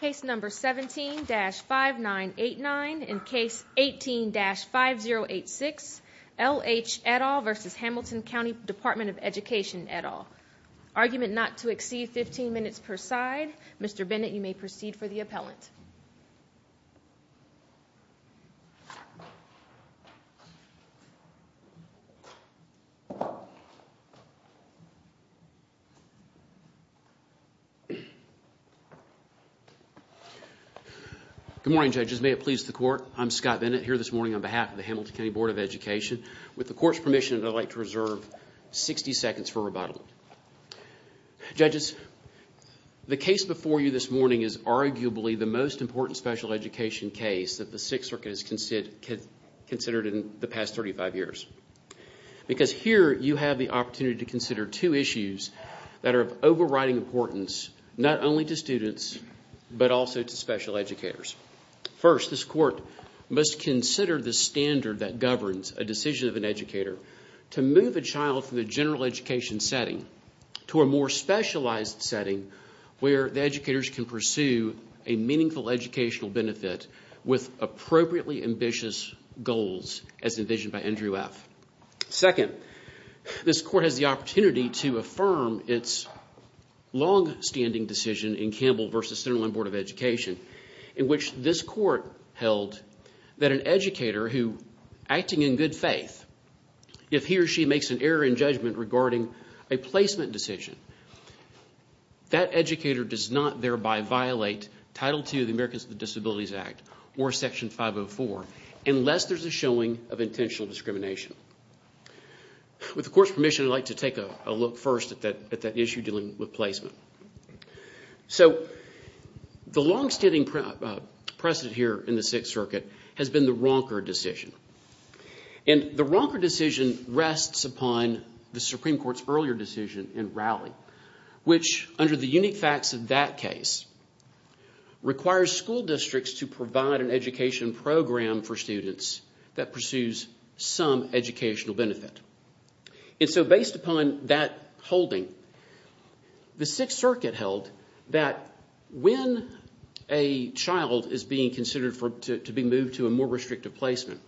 Case No. 17-5989 and Case 18-5086 L H et al. v. Hamilton Co Dept of Education et al. Argument not to exceed 15 minutes per side. Mr. Bennett, you may proceed for the appellant. Good morning, Judges. May it please the Court, I'm Scott Bennett here this morning on behalf of the Hamilton County Board of Education. With the Court's permission, I'd like to reserve 60 seconds for rebuttal. Judges, the case before you this morning is arguably the most important special education case that the Sixth Circuit has considered in the past 35 years. Because here, you have the opportunity to consider two issues that are of overriding importance, not only to students, but also to special educators. First, this Court must consider the standard that governs a decision of an educator to move a child from the general education setting to a more specialized setting where the educators can pursue a meaningful educational benefit with appropriately ambitious goals as envisioned by Andrew F. Second, this Court has the opportunity to affirm its long-standing decision in Campbell v. Centerland Board of Education in which this Court held that an educator who, acting in good faith, if he or she makes an error in judgment regarding a placement decision, that educator does not thereby violate Title II of the Americans with Disabilities Act or Section 504 unless there's a showing of intentional discrimination. With the Court's permission, I'd like to take a look first at that issue dealing with placement. So the long-standing precedent here in the Sixth Circuit has been the Ronker decision. And the Ronker decision rests upon the Supreme Court's earlier decision in Rowley which, under the unique facts of that case, requires school districts to provide an education program for students that pursues some educational benefit. And so based upon that holding, the Sixth Circuit held that when a child is being considered to be moved to a more restrictive placement,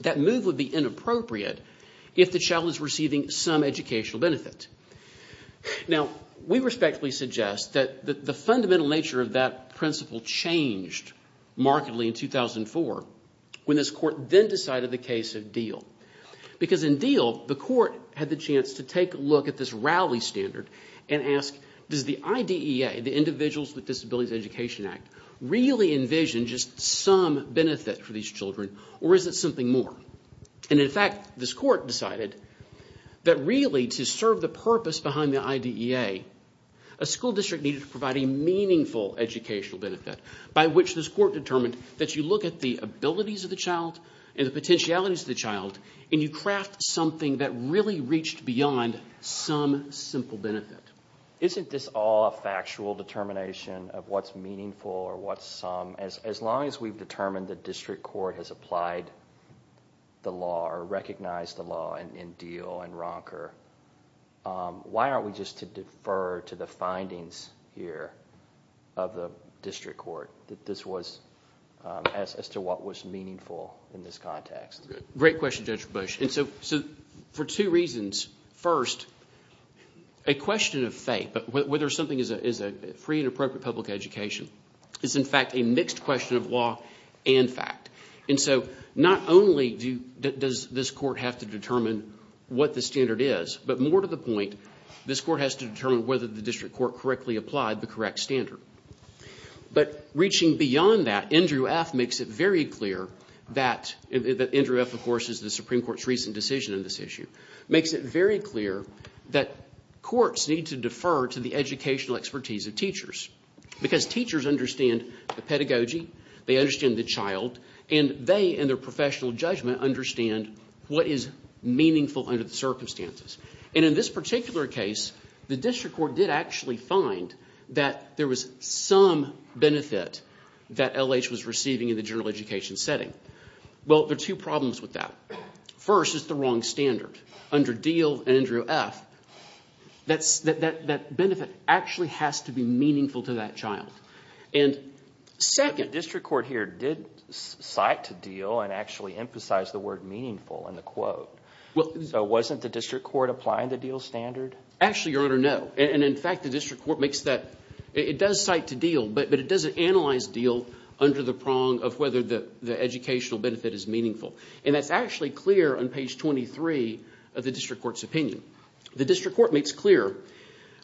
that move would be inappropriate if the child is receiving some educational benefit. Now, we respectfully suggest that the fundamental nature of that principle changed markedly in 2004 when this Court then decided the case of Diehl. Because in Diehl, the Court had the chance to take a look at this Rowley standard and ask, does the IDEA, the Individuals with Disabilities Education Act, really envision just some benefit for these children or is it something more? And in fact, this Court decided that really to serve the purpose behind the IDEA, a school district needed to provide a meaningful educational benefit by which this Court determined that you look at the abilities of the child and the potentialities of the child, and you craft something that really reached beyond some simple benefit. Isn't this all a factual determination of what's meaningful or what's some? As long as we've determined the district court has applied the law or recognized the law in Diehl and Ronker, why aren't we just to defer to the findings here of the district court that this was as to what was meaningful in this context? Great question, Judge Busch. And so for two reasons. First, a question of faith, whether something is a free and appropriate public education, is in fact a mixed question of law and fact. And so not only does this Court have to determine what the standard is, but more to the point, this Court has to determine whether the district court correctly applied the correct standard. But reaching beyond that, Andrew F. makes it very clear that, Andrew F., of course, is the Supreme Court's recent decision on this issue, makes it very clear that courts need to defer to the educational expertise of teachers because teachers understand the pedagogy, they understand the child, and they, in their professional judgment, understand what is meaningful under the circumstances. And in this particular case, the district court did actually find that there was some benefit that L.H. was receiving in the general education setting. Well, there are two problems with that. First is the wrong standard. Under Diehl and Andrew F., that benefit actually has to be meaningful to that child. And second... The district court here did cite Diehl and actually emphasized the word meaningful in the quote. So wasn't the district court applying the Diehl standard? Actually, Your Honor, no. And, in fact, the district court makes that... It does cite Diehl, but it doesn't analyze Diehl under the prong of whether the educational benefit is meaningful. And that's actually clear on page 23 of the district court's opinion. The district court makes clear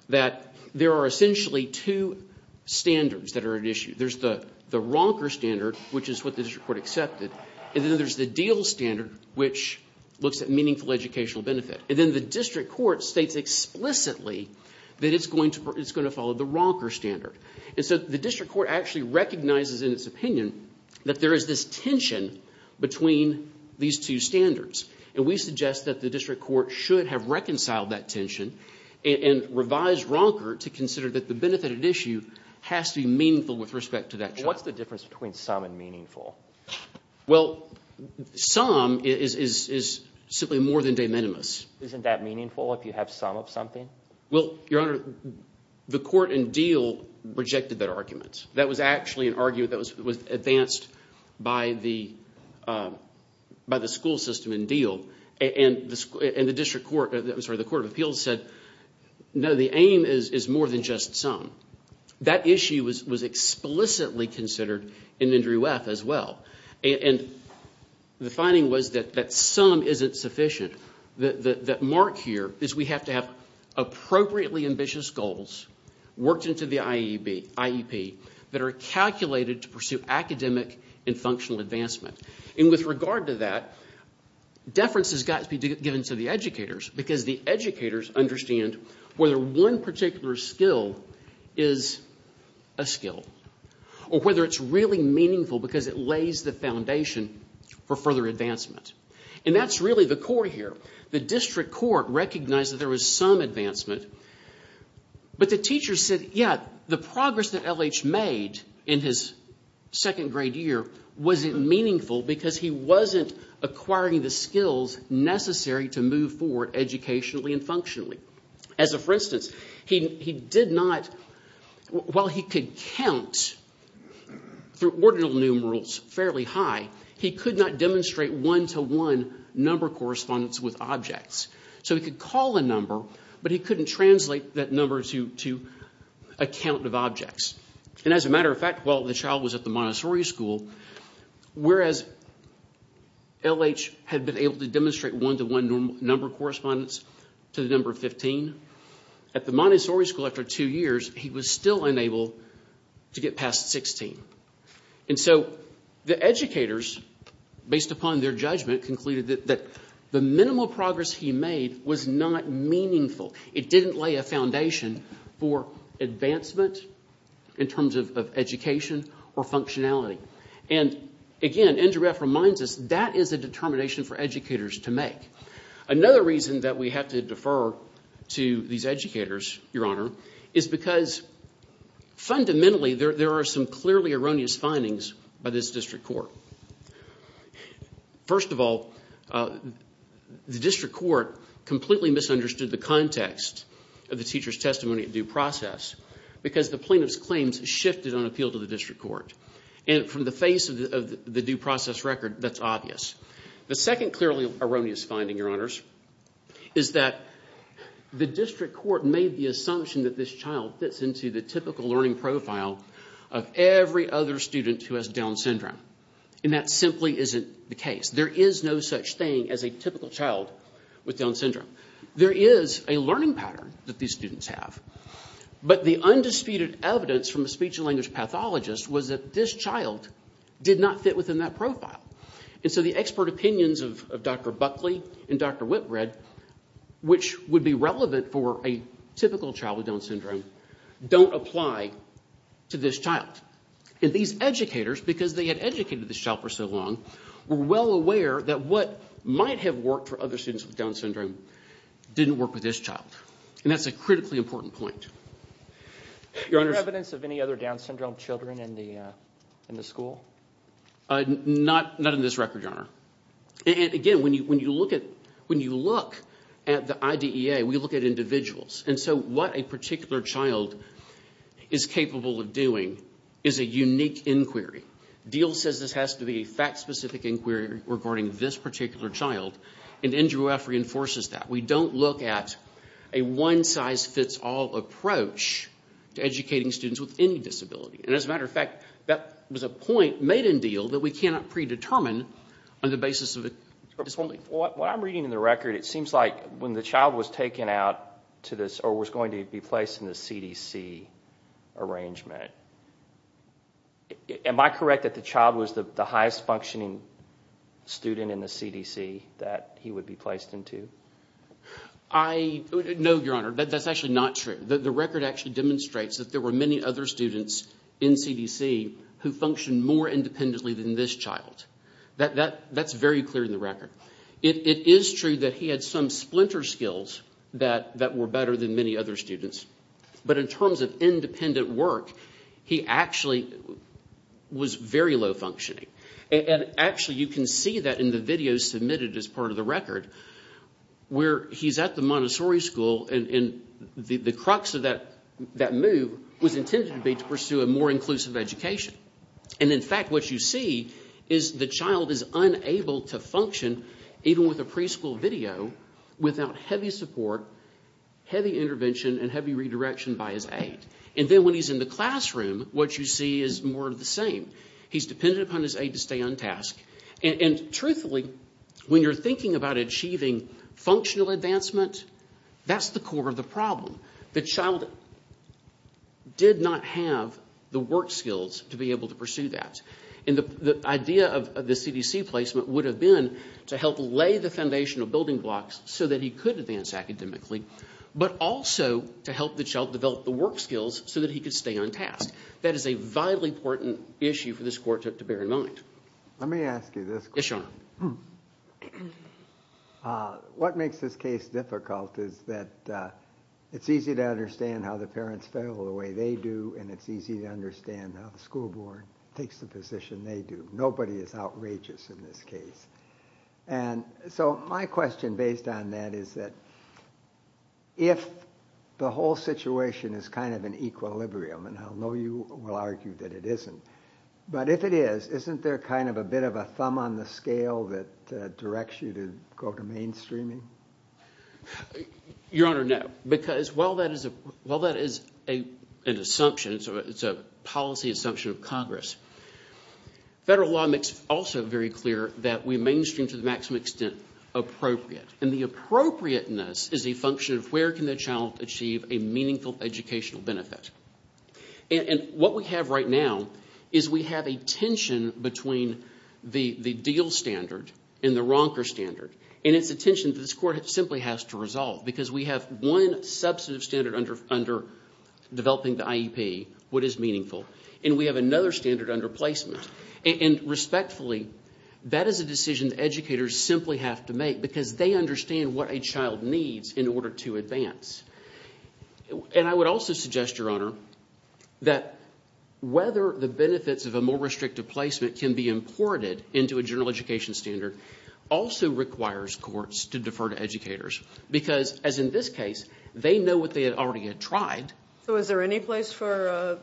that there are essentially two standards that are at issue. There's the ronker standard, which is what the district court accepted, and then there's the Diehl standard, which looks at meaningful educational benefit. And then the district court states explicitly that it's going to follow the ronker standard. And so the district court actually recognizes in its opinion that there is this tension between these two standards. And we suggest that the district court should have reconciled that tension and revised ronker to consider that the benefit at issue has to be meaningful with respect to that child. What's the difference between some and meaningful? Well, some is simply more than de minimis. Isn't that meaningful if you have some of something? Well, Your Honor, the court in Diehl rejected that argument. That was actually an argument that was advanced by the school system in Diehl. And the district court—I'm sorry, the court of appeals said, no, the aim is more than just some. That issue was explicitly considered in Andrew F. as well. And the finding was that some isn't sufficient. The mark here is we have to have appropriately ambitious goals worked into the IEP that are calculated to pursue academic and functional advancement. And with regard to that, deference has got to be given to the educators because the educators understand whether one particular skill is a skill or whether it's really meaningful because it lays the foundation for further advancement. And that's really the core here. The district court recognized that there was some advancement, but the teachers said, yeah, the progress that L.H. made in his second grade year wasn't meaningful because he wasn't acquiring the skills necessary to move forward educationally and functionally. For instance, while he could count through ordinal numerals fairly high, he could not demonstrate one-to-one number correspondence with objects. So he could call a number, but he couldn't translate that number to a count of objects. And as a matter of fact, while the child was at the Montessori School, whereas L.H. had been able to demonstrate one-to-one number correspondence to the number 15, at the Montessori School, after two years, he was still unable to get past 16. And so the educators, based upon their judgment, concluded that the minimal progress he made was not meaningful. It didn't lay a foundation for advancement in terms of education or functionality. And again, NGREF reminds us that is a determination for educators to make. Another reason that we have to defer to these educators, Your Honor, is because fundamentally there are some clearly erroneous findings by this district court. First of all, the district court completely misunderstood the context of the teacher's testimony due process because the plaintiff's claims shifted on appeal to the district court. And from the face of the due process record, that's obvious. The second clearly erroneous finding, Your Honors, is that the district court made the assumption that this child fits into the typical learning profile of every other student who has Down syndrome. And that simply isn't the case. There is no such thing as a typical child with Down syndrome. There is a learning pattern that these students have. But the undisputed evidence from a speech and language pathologist was that this child did not fit within that profile. And so the expert opinions of Dr. Buckley and Dr. Whitbread, which would be relevant for a typical child with Down syndrome, don't apply to this child. And these educators, because they had educated this child for so long, were well aware that what might have worked for other students with Down syndrome didn't work with this child. And that's a critically important point. Your Honors. Is there evidence of any other Down syndrome children in the school? Not in this record, Your Honor. And again, when you look at the IDEA, we look at individuals. And so what a particular child is capable of doing is a unique inquiry. Diehl says this has to be a fact-specific inquiry regarding this particular child. And NGREF reinforces that. We don't look at a one-size-fits-all approach to educating students with any disability. And as a matter of fact, that was a point made in Diehl that we cannot predetermine on the basis of a disability. What I'm reading in the record, it seems like when the child was taken out to this or was going to be placed in the CDC arrangement, am I correct that the child was the highest-functioning student in the CDC that he would be placed into? No, Your Honor. That's actually not true. The record actually demonstrates that there were many other students in CDC who functioned more independently than this child. That's very clear in the record. It is true that he had some splinter skills that were better than many other students. But in terms of independent work, he actually was very low-functioning. And actually, you can see that in the videos submitted as part of the record where he's at the Montessori school, and the crux of that move was intended to be to pursue a more inclusive education. And in fact, what you see is the child is unable to function, even with a preschool video, without heavy support, heavy intervention, and heavy redirection by his aide. And then when he's in the classroom, what you see is more of the same. He's dependent upon his aide to stay on task. And truthfully, when you're thinking about achieving functional advancement, that's the core of the problem. The child did not have the work skills to be able to pursue that. And the idea of the CDC placement would have been to help lay the foundation of building blocks so that he could advance academically, but also to help the child develop the work skills so that he could stay on task. That is a vitally important issue for this court to bear in mind. Let me ask you this question. Yes, Your Honor. What makes this case difficult is that it's easy to understand how the parents fail the way they do, and it's easy to understand how the school board takes the position they do. Nobody is outrageous in this case. And so my question based on that is that if the whole situation is kind of an equilibrium, and I know you will argue that it isn't, but if it is, isn't there kind of a bit of a thumb on the scale that directs you to go to mainstreaming? Your Honor, no, because while that is an assumption, it's a policy assumption of Congress, federal law makes also very clear that we mainstream to the maximum extent appropriate. And the appropriateness is a function of where can the child achieve a meaningful educational benefit. And what we have right now is we have a tension between the DEAL standard and the Ronker standard, and it's a tension that this court simply has to resolve because we have one substantive standard under developing the IEP, what is meaningful, and we have another standard under placement. And respectfully, that is a decision educators simply have to make because they understand what a child needs in order to advance. And I would also suggest, Your Honor, that whether the benefits of a more restrictive placement can be imported into a general education standard also requires courts to defer to educators because, as in this case, they know what they had already tried. So is there any place for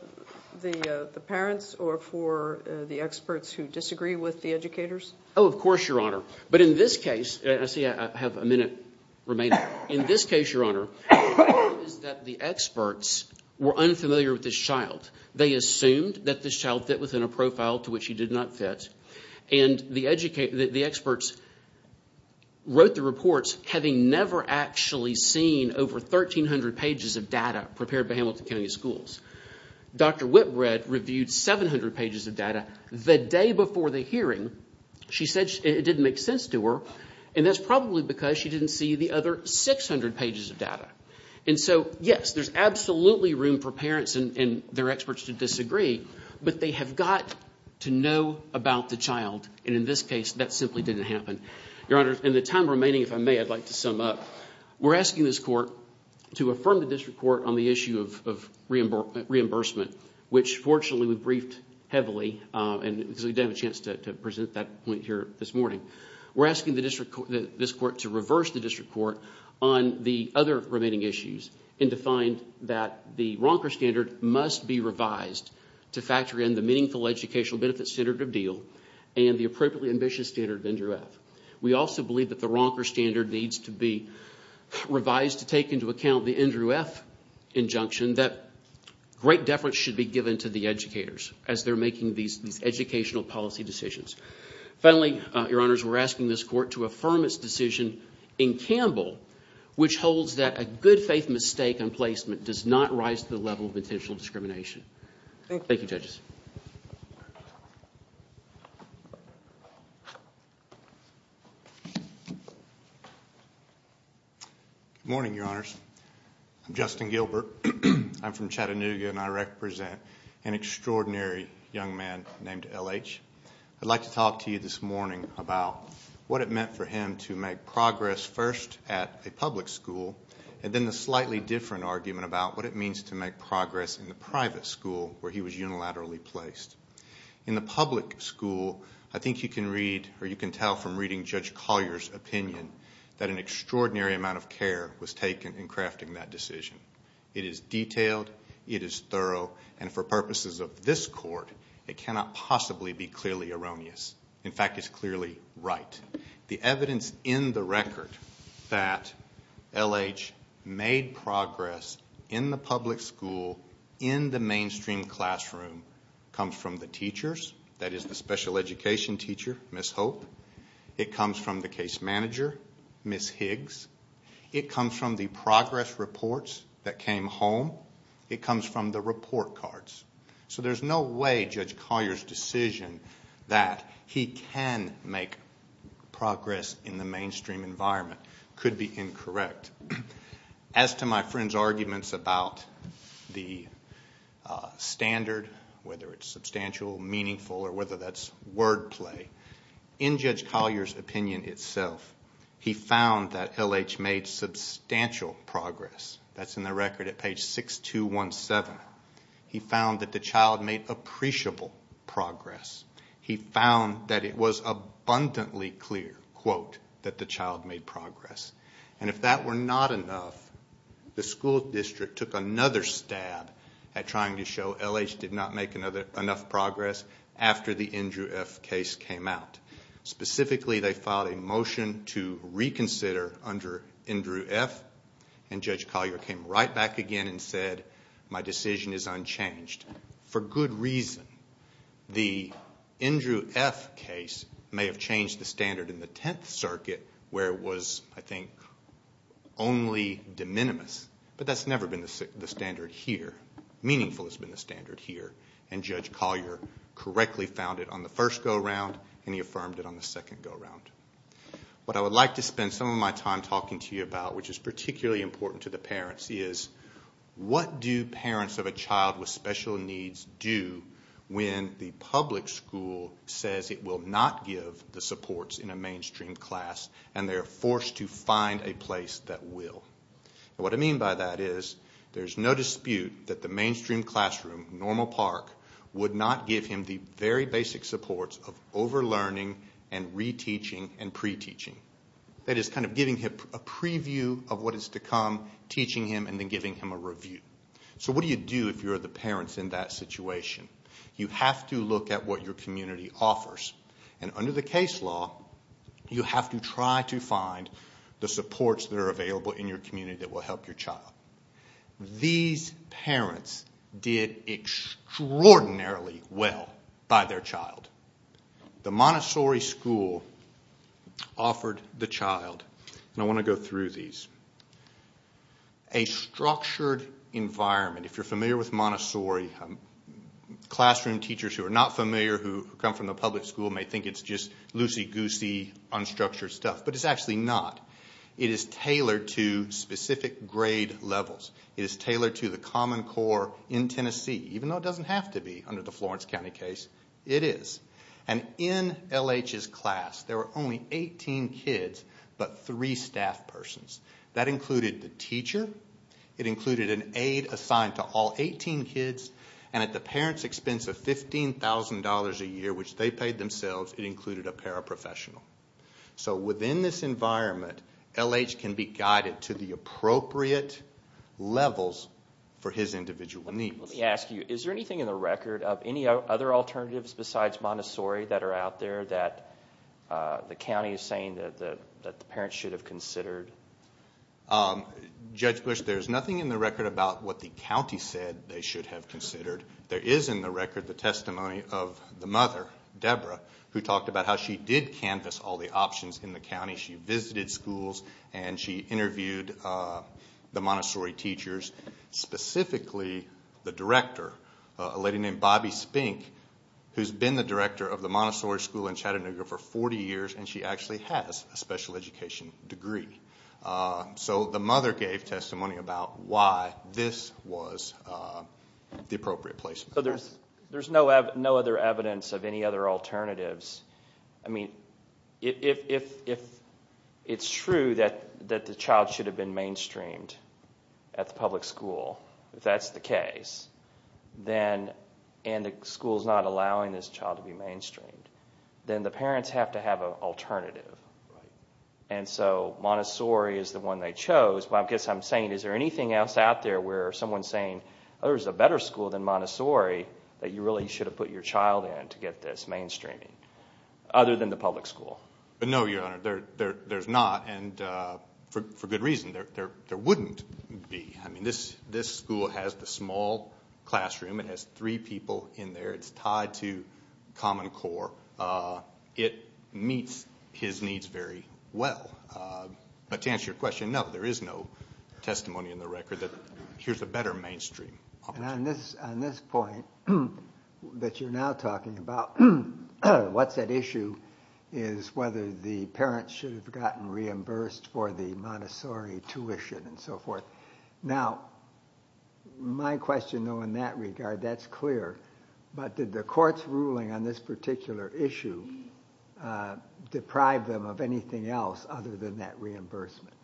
the parents or for the experts who disagree with the educators? Oh, of course, Your Honor. But in this case, and I see I have a minute remaining, in this case, Your Honor, is that the experts were unfamiliar with this child. They assumed that this child fit within a profile to which he did not fit, and the experts wrote the reports having never actually seen over 1,300 pages of data prepared by Hamilton County Schools. Dr. Whitbread reviewed 700 pages of data the day before the hearing. She said it didn't make sense to her, and that's probably because she didn't see the other 600 pages of data. And so, yes, there's absolutely room for parents and their experts to disagree, but they have got to know about the child, and in this case, that simply didn't happen. Your Honor, in the time remaining, if I may, I'd like to sum up. We're asking this court to affirm the district court on the issue of reimbursement, which, fortunately, we briefed heavily because we didn't have a chance to present that point here this morning. We're asking this court to reverse the district court on the other remaining issues and to find that the Ronker standard must be revised to factor in the Meaningful Educational Benefits Standard of Deal and the Appropriately Ambitious Standard of NDREF. We also believe that the Ronker standard needs to be revised to take into account the NDREF injunction that great deference should be given to the educators as they're making these educational policy decisions. Finally, Your Honors, we're asking this court to affirm its decision in Campbell, which holds that a good faith mistake on placement does not rise to the level of intentional discrimination. Thank you, judges. Good morning, Your Honors. I'm Justin Gilbert. I'm from Chattanooga, and I represent an extraordinary young man named L.H. I'd like to talk to you this morning about what it meant for him to make progress first at a public school and then the slightly different argument about what it means to make progress in the private school where he was unilaterally placed. In the public school, I think you can read, or you can tell from reading Judge Collier's opinion, that an extraordinary amount of care was taken in crafting that decision. It is detailed, it is thorough, and for purposes of this court, it cannot possibly be clearly erroneous. In fact, it's clearly right. The evidence in the record that L.H. made progress in the public school in the mainstream classroom comes from the teachers, that is, the special education teacher, Ms. Hope. It comes from the case manager, Ms. Higgs. It comes from the progress reports that came home. It comes from the report cards. So there's no way Judge Collier's decision that he can make progress in the mainstream environment could be incorrect. As to my friend's arguments about the standard, whether it's substantial, meaningful, or whether that's wordplay, in Judge Collier's opinion itself, he found that L.H. made substantial progress. That's in the record at page 6217. He found that the child made appreciable progress. He found that it was abundantly clear, quote, that the child made progress. And if that were not enough, the school district took another stab at trying to show L.H. did not make enough progress after the Andrew F. case came out. Specifically, they filed a motion to reconsider under Andrew F., and Judge Collier came right back again and said, my decision is unchanged, for good reason. The Andrew F. case may have changed the standard in the Tenth Circuit, where it was, I think, only de minimis, but that's never been the standard here. Meaningful has been the standard here, and Judge Collier correctly found it on the first go-round, and he affirmed it on the second go-round. What I would like to spend some of my time talking to you about, which is particularly important to the parents, is what do parents of a child with special needs do when the public school says it will not give the supports in a mainstream class, and they're forced to find a place that will? What I mean by that is there's no dispute that the mainstream classroom, normal park, would not give him the very basic supports of over-learning and re-teaching and pre-teaching. That is kind of giving him a preview of what is to come, teaching him, and then giving him a review. So what do you do if you're the parents in that situation? You have to look at what your community offers, and under the case law, you have to try to find the supports that are available in your community that will help your child. These parents did extraordinarily well by their child. The Montessori school offered the child, and I want to go through these, a structured environment. If you're familiar with Montessori, classroom teachers who are not familiar, who come from the public school, may think it's just loosey-goosey, unstructured stuff, but it's actually not. It is tailored to specific grade levels. It is tailored to the Common Core in Tennessee, even though it doesn't have to be under the Florence County case. It is. And in L.H.'s class, there were only 18 kids, but three staff persons. That included the teacher, it included an aide assigned to all 18 kids, and at the parents' expense of $15,000 a year, which they paid themselves, it included a paraprofessional. So within this environment, L.H. can be guided to the appropriate levels for his individual needs. Let me ask you, is there anything in the record of any other alternatives besides Montessori that are out there that the county is saying that the parents should have considered? Judge Bush, there's nothing in the record about what the county said they should have considered. There is in the record the testimony of the mother, Debra, who talked about how she did canvass all the options in the county. She visited schools, and she interviewed the Montessori teachers, specifically the director, a lady named Bobbi Spink, who's been the director of the Montessori School in Chattanooga for 40 years, and she actually has a special education degree. So the mother gave testimony about why this was the appropriate placement. There's no other evidence of any other alternatives. I mean, if it's true that the child should have been mainstreamed at the public school, if that's the case, and the school's not allowing this child to be mainstreamed, then the parents have to have an alternative. And so Montessori is the one they chose. I guess I'm saying, is there anything else out there where someone's saying, oh, there's a better school than Montessori that you really should have put your child in to get this mainstreaming, other than the public school? No, Your Honor, there's not, and for good reason. There wouldn't be. I mean, this school has the small classroom. It has three people in there. It's tied to Common Core. It meets his needs very well. But to answer your question, no, there is no testimony in the record that here's a better mainstream opportunity. On this point that you're now talking about, what's at issue is whether the parents should have gotten reimbursed for the Montessori tuition and so forth. Now, my question, though, in that regard, that's clear. But did the court's ruling on this particular issue deprive them of anything else other than that reimbursement?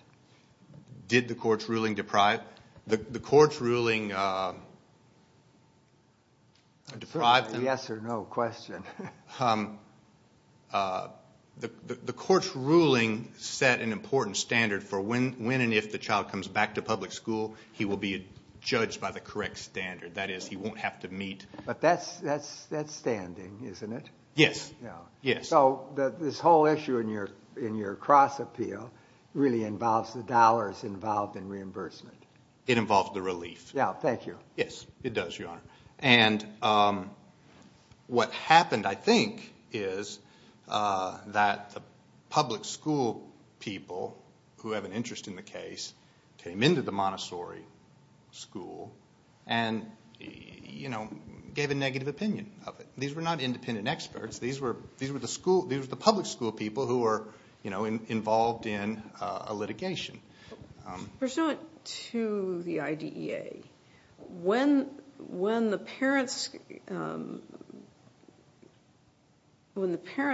Did the court's ruling deprive? The court's ruling deprived them? It's a yes or no question. The court's ruling set an important standard for when and if the child comes back to public school, he will be judged by the correct standard. That is, he won't have to meet. But that's standing, isn't it? Yes. So this whole issue in your cross-appeal really involves the dollars involved in reimbursement. It involves the relief. Yeah, thank you. Yes, it does, Your Honor. And what happened, I think, is that the public school people who have an interest in the case came into the Montessori school and gave a negative opinion of it. These were not independent experts. These were the public school people who were involved in a litigation. Pursuant to the IDEA, when the parents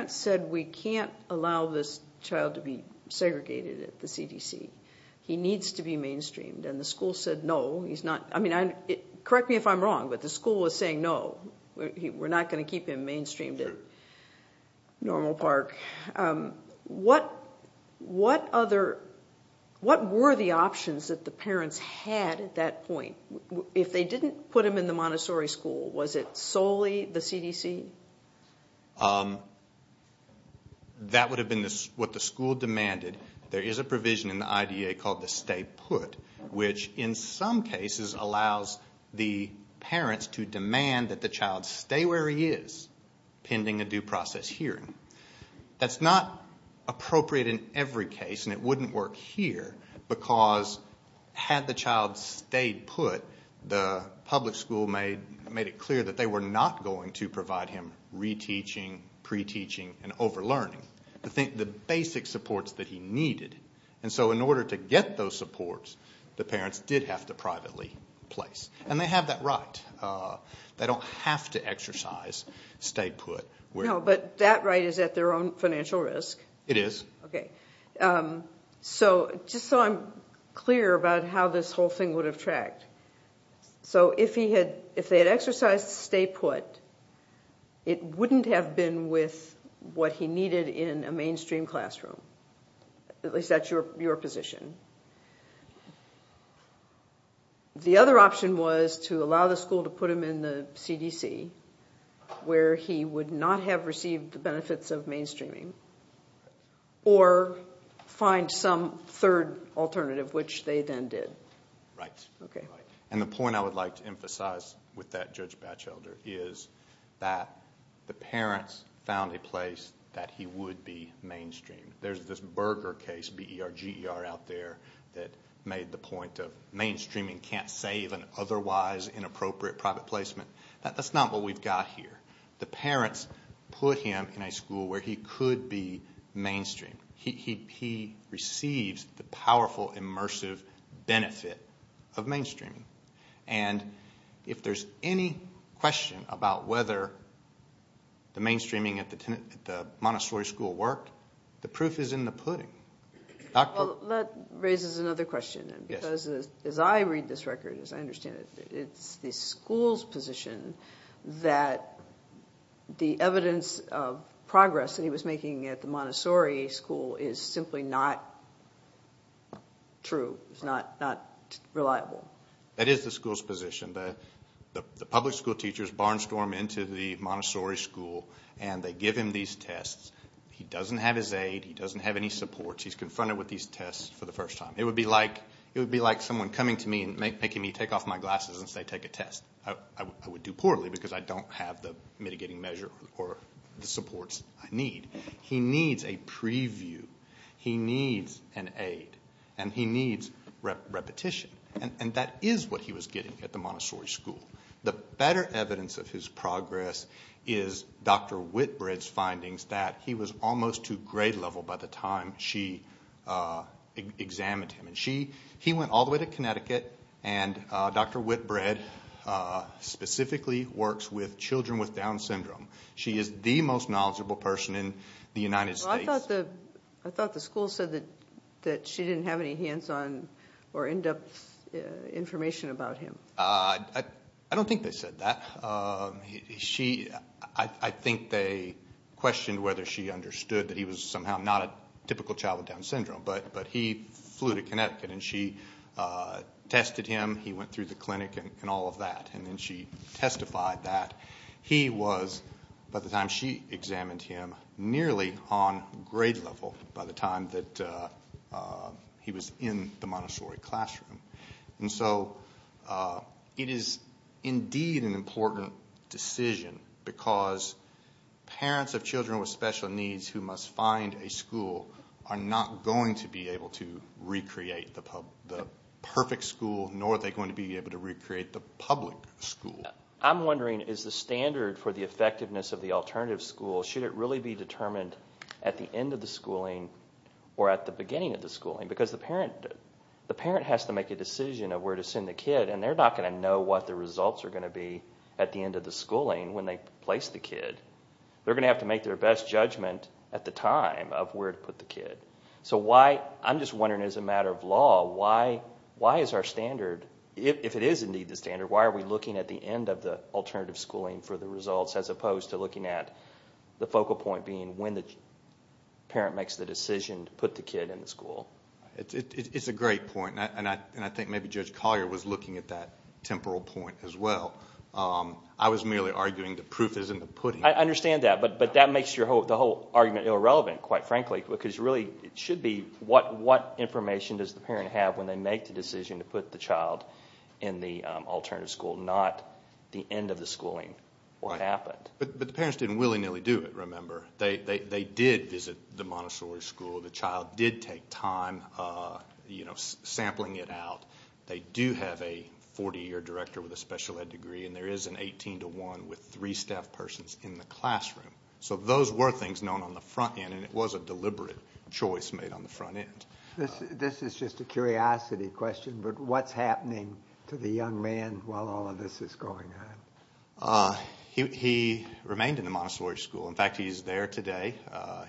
said, we can't allow this child to be segregated at the CDC, he needs to be mainstreamed, and the school said no. Correct me if I'm wrong, but the school was saying no. We're not going to keep him mainstreamed at Normal Park. What were the options that the parents had at that point? If they didn't put him in the Montessori school, was it solely the CDC? That would have been what the school demanded. There is a provision in the IDEA called the stay put, which in some cases allows the parents to demand that the child stay where he is pending a due process hearing. That's not appropriate in every case, and it wouldn't work here, because had the child stayed put, the public school made it clear that they were not going to provide him reteaching, pre-teaching, and over-learning, the basic supports that he needed. And so in order to get those supports, the parents did have to privately place. And they have that right. They don't have to exercise stay put. No, but that right is at their own financial risk. It is. Okay. So just so I'm clear about how this whole thing would have tracked, so if they had exercised stay put, it wouldn't have been with what he needed in a mainstream classroom, at least that's your position. The other option was to allow the school to put him in the CDC, where he would not have received the benefits of mainstreaming, or find some third alternative, which they then did. Right. Okay. And the point I would like to emphasize with that, Judge Batchelder, is that the parents found a place that he would be mainstream. There's this Berger case, B-E-R-G-E-R, out there that made the point of mainstreaming can't save an otherwise inappropriate private placement. That's not what we've got here. The parents put him in a school where he could be mainstream. He receives the powerful, immersive benefit of mainstreaming. And if there's any question about whether the mainstreaming at the Montessori school worked, the proof is in the pudding. Well, that raises another question, because as I read this record, as I understand it, it's the school's position that the evidence of progress that he was making at the Montessori school is simply not true, is not reliable. That is the school's position. The public school teachers barnstorm into the Montessori school and they give him these tests. He doesn't have his aid. He doesn't have any supports. He's confronted with these tests for the first time. It would be like someone coming to me and making me take off my glasses and say, take a test. I would do poorly because I don't have the mitigating measure or the supports I need. He needs a preview. He needs an aid. And he needs repetition. And that is what he was getting at the Montessori school. The better evidence of his progress is Dr. Whitbread's findings that he was almost to grade level by the time she examined him. He went all the way to Connecticut, and Dr. Whitbread specifically works with children with Down syndrome. She is the most knowledgeable person in the United States. I thought the school said that she didn't have any hands-on or in-depth information about him. I don't think they said that. I think they questioned whether she understood that he was somehow not a typical child with Down syndrome, but he flew to Connecticut and she tested him. He went through the clinic and all of that, and then she testified that he was, by the time she examined him, nearly on grade level by the time that he was in the Montessori classroom. And so it is indeed an important decision because parents of children with special needs who must find a school are not going to be able to recreate the perfect school, nor are they going to be able to recreate the public school. I'm wondering, is the standard for the effectiveness of the alternative school, should it really be determined at the end of the schooling or at the beginning of the schooling? Because the parent has to make a decision of where to send the kid, and they're not going to know what the results are going to be at the end of the schooling when they place the kid. They're going to have to make their best judgment at the time of where to put the kid. So I'm just wondering, as a matter of law, why is our standard, if it is indeed the standard, why are we looking at the end of the alternative schooling for the results as opposed to looking at the focal point being when the parent makes the decision to put the kid in the school? It's a great point, and I think maybe Judge Collier was looking at that temporal point as well. I was merely arguing the proof is in the pudding. I understand that, but that makes the whole argument irrelevant, quite frankly, because really it should be what information does the parent have when they make the decision to put the child in the alternative school, not the end of the schooling or what happened. But the parents didn't willy-nilly do it, remember. They did visit the Montessori school. The child did take time sampling it out. They do have a 40-year director with a special ed degree, and there is an 18-to-1 with three staff persons in the classroom. So those were things known on the front end, and it was a deliberate choice made on the front end. This is just a curiosity question, but what's happening to the young man while all of this is going on? He remained in the Montessori school. In fact, he's there today.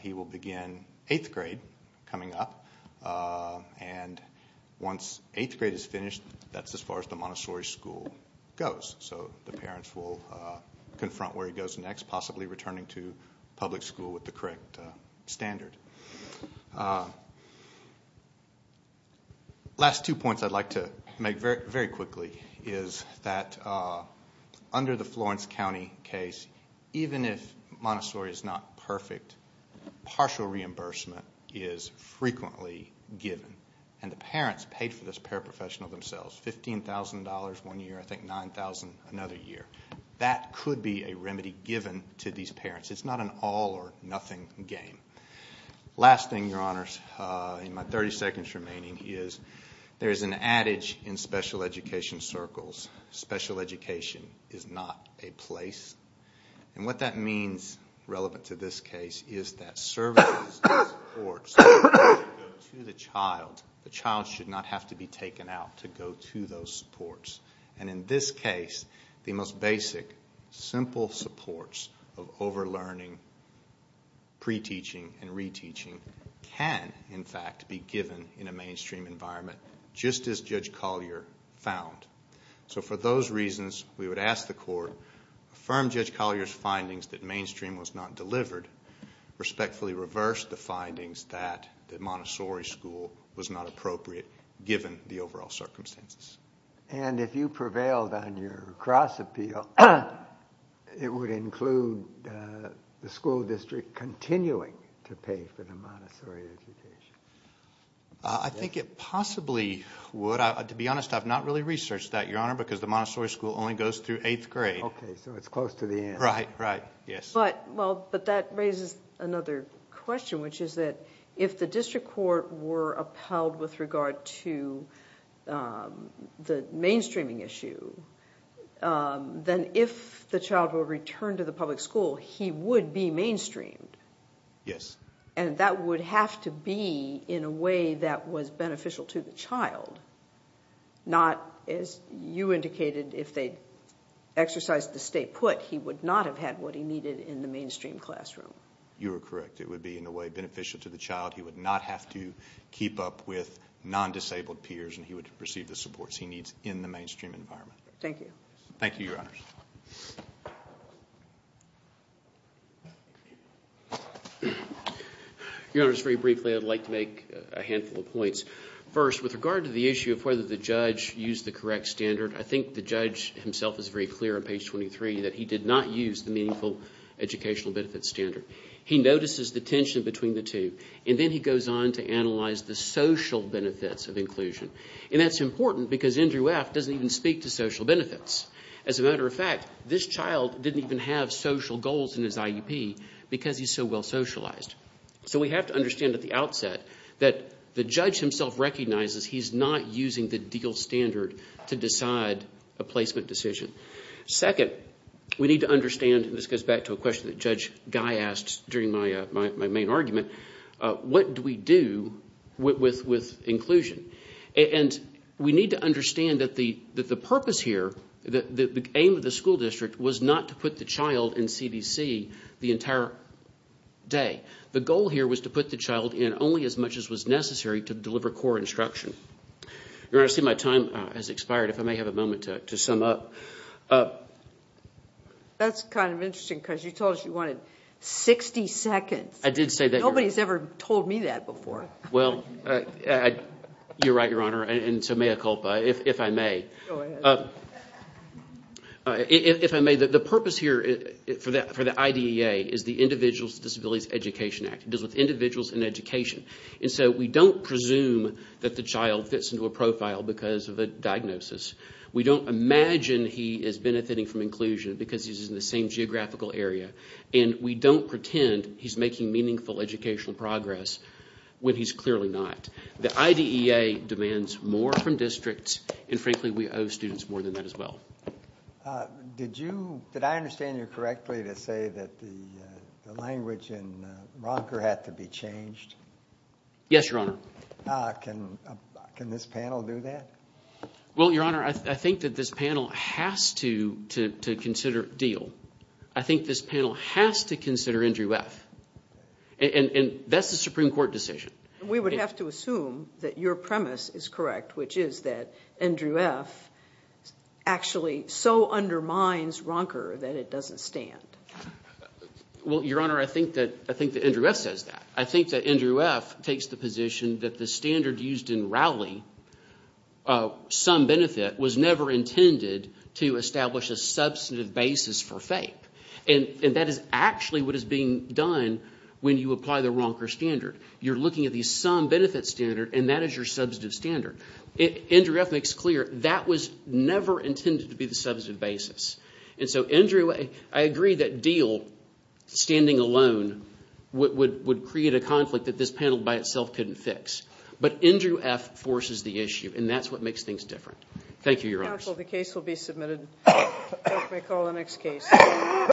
He will begin eighth grade coming up, and once eighth grade is finished, that's as far as the Montessori school goes. So the parents will confront where he goes next, possibly returning to public school with the correct standard. Last two points I'd like to make very quickly is that under the Florence County case, even if Montessori is not perfect, partial reimbursement is frequently given, and the parents paid for this paraprofessional themselves, $15,000 one year, I think $9,000 another year. That could be a remedy given to these parents. It's not an all-or-nothing game. Last thing, Your Honors, in my 30 seconds remaining, is there is an adage in special education circles, special education is not a place. And what that means, relevant to this case, is that services and supports go to the child. The child should not have to be taken out to go to those supports. And in this case, the most basic, simple supports of over-learning, pre-teaching, and re-teaching can, in fact, be given in a mainstream environment, just as Judge Collier found. So for those reasons, we would ask the court, affirm Judge Collier's findings that mainstream was not delivered, respectfully reverse the findings that the Montessori school was not appropriate, given the overall circumstances. And if you prevailed on your cross-appeal, it would include the school district continuing to pay for the Montessori education. I think it possibly would. To be honest, I've not really researched that, Your Honor, because the Montessori school only goes through eighth grade. Okay, so it's close to the end. Right, right, yes. But that raises another question, which is that if the district court were upheld with regard to the mainstreaming issue, then if the child were returned to the public school, he would be mainstreamed. Yes. And that would have to be in a way that was beneficial to the child, not, as you indicated, if they exercised the state put, he would not have had what he needed in the mainstream classroom. You are correct. It would be, in a way, beneficial to the child. He would not have to keep up with non-disabled peers, and he would receive the supports he needs in the mainstream environment. Thank you. Thank you, Your Honors. Your Honors, very briefly, I'd like to make a handful of points. First, with regard to the issue of whether the judge used the correct standard, I think the judge himself is very clear on page 23 that he did not use the meaningful educational benefit standard. He notices the tension between the two, and then he goes on to analyze the social benefits of inclusion. And that's important because Andrew F. doesn't even speak to social benefits. As a matter of fact, this child didn't even have social goals in his IEP because he's so well socialized. So we have to understand at the outset that the judge himself recognizes he's not using the DEAL standard to decide a placement decision. Second, we need to understand, and this goes back to a question that Judge Guy asked during my main argument, what do we do with inclusion? And we need to understand that the purpose here, the aim of the school district, was not to put the child in CDC the entire day. The goal here was to put the child in only as much as was necessary to deliver core instruction. Your Honor, I see my time has expired. If I may have a moment to sum up. That's kind of interesting because you told us you wanted 60 seconds. I did say that. Nobody's ever told me that before. Well, you're right, Your Honor. And so mea culpa, if I may. Go ahead. If I may, the purpose here for the IDEA is the Individuals with Disabilities Education Act. It deals with individuals in education. And so we don't presume that the child fits into a profile because of a diagnosis. We don't imagine he is benefiting from inclusion because he's in the same geographical area. And we don't pretend he's making meaningful educational progress when he's clearly not. The IDEA demands more from districts, and frankly we owe students more than that as well. Did I understand you correctly to say that the language in Ronker had to be changed? Yes, Your Honor. Can this panel do that? Well, Your Honor, I think that this panel has to consider Deal. I think this panel has to consider NGUF. And that's the Supreme Court decision. We would have to assume that your premise is correct, which is that NGUF actually so undermines Ronker that it doesn't stand. Well, Your Honor, I think that NGUF says that. I think that NGUF takes the position that the standard used in Rowley, some benefit, was never intended to establish a substantive basis for FAPE. And that is actually what is being done when you apply the Ronker standard. You're looking at the sum benefit standard, and that is your substantive standard. NGUF makes clear that was never intended to be the substantive basis. And so NGUF, I agree that Deal, standing alone, would create a conflict that this panel by itself couldn't fix. But NGUF forces the issue, and that's what makes things different. Thank you, Your Honors. Thank you, counsel. The case will be submitted. Let me call the next case.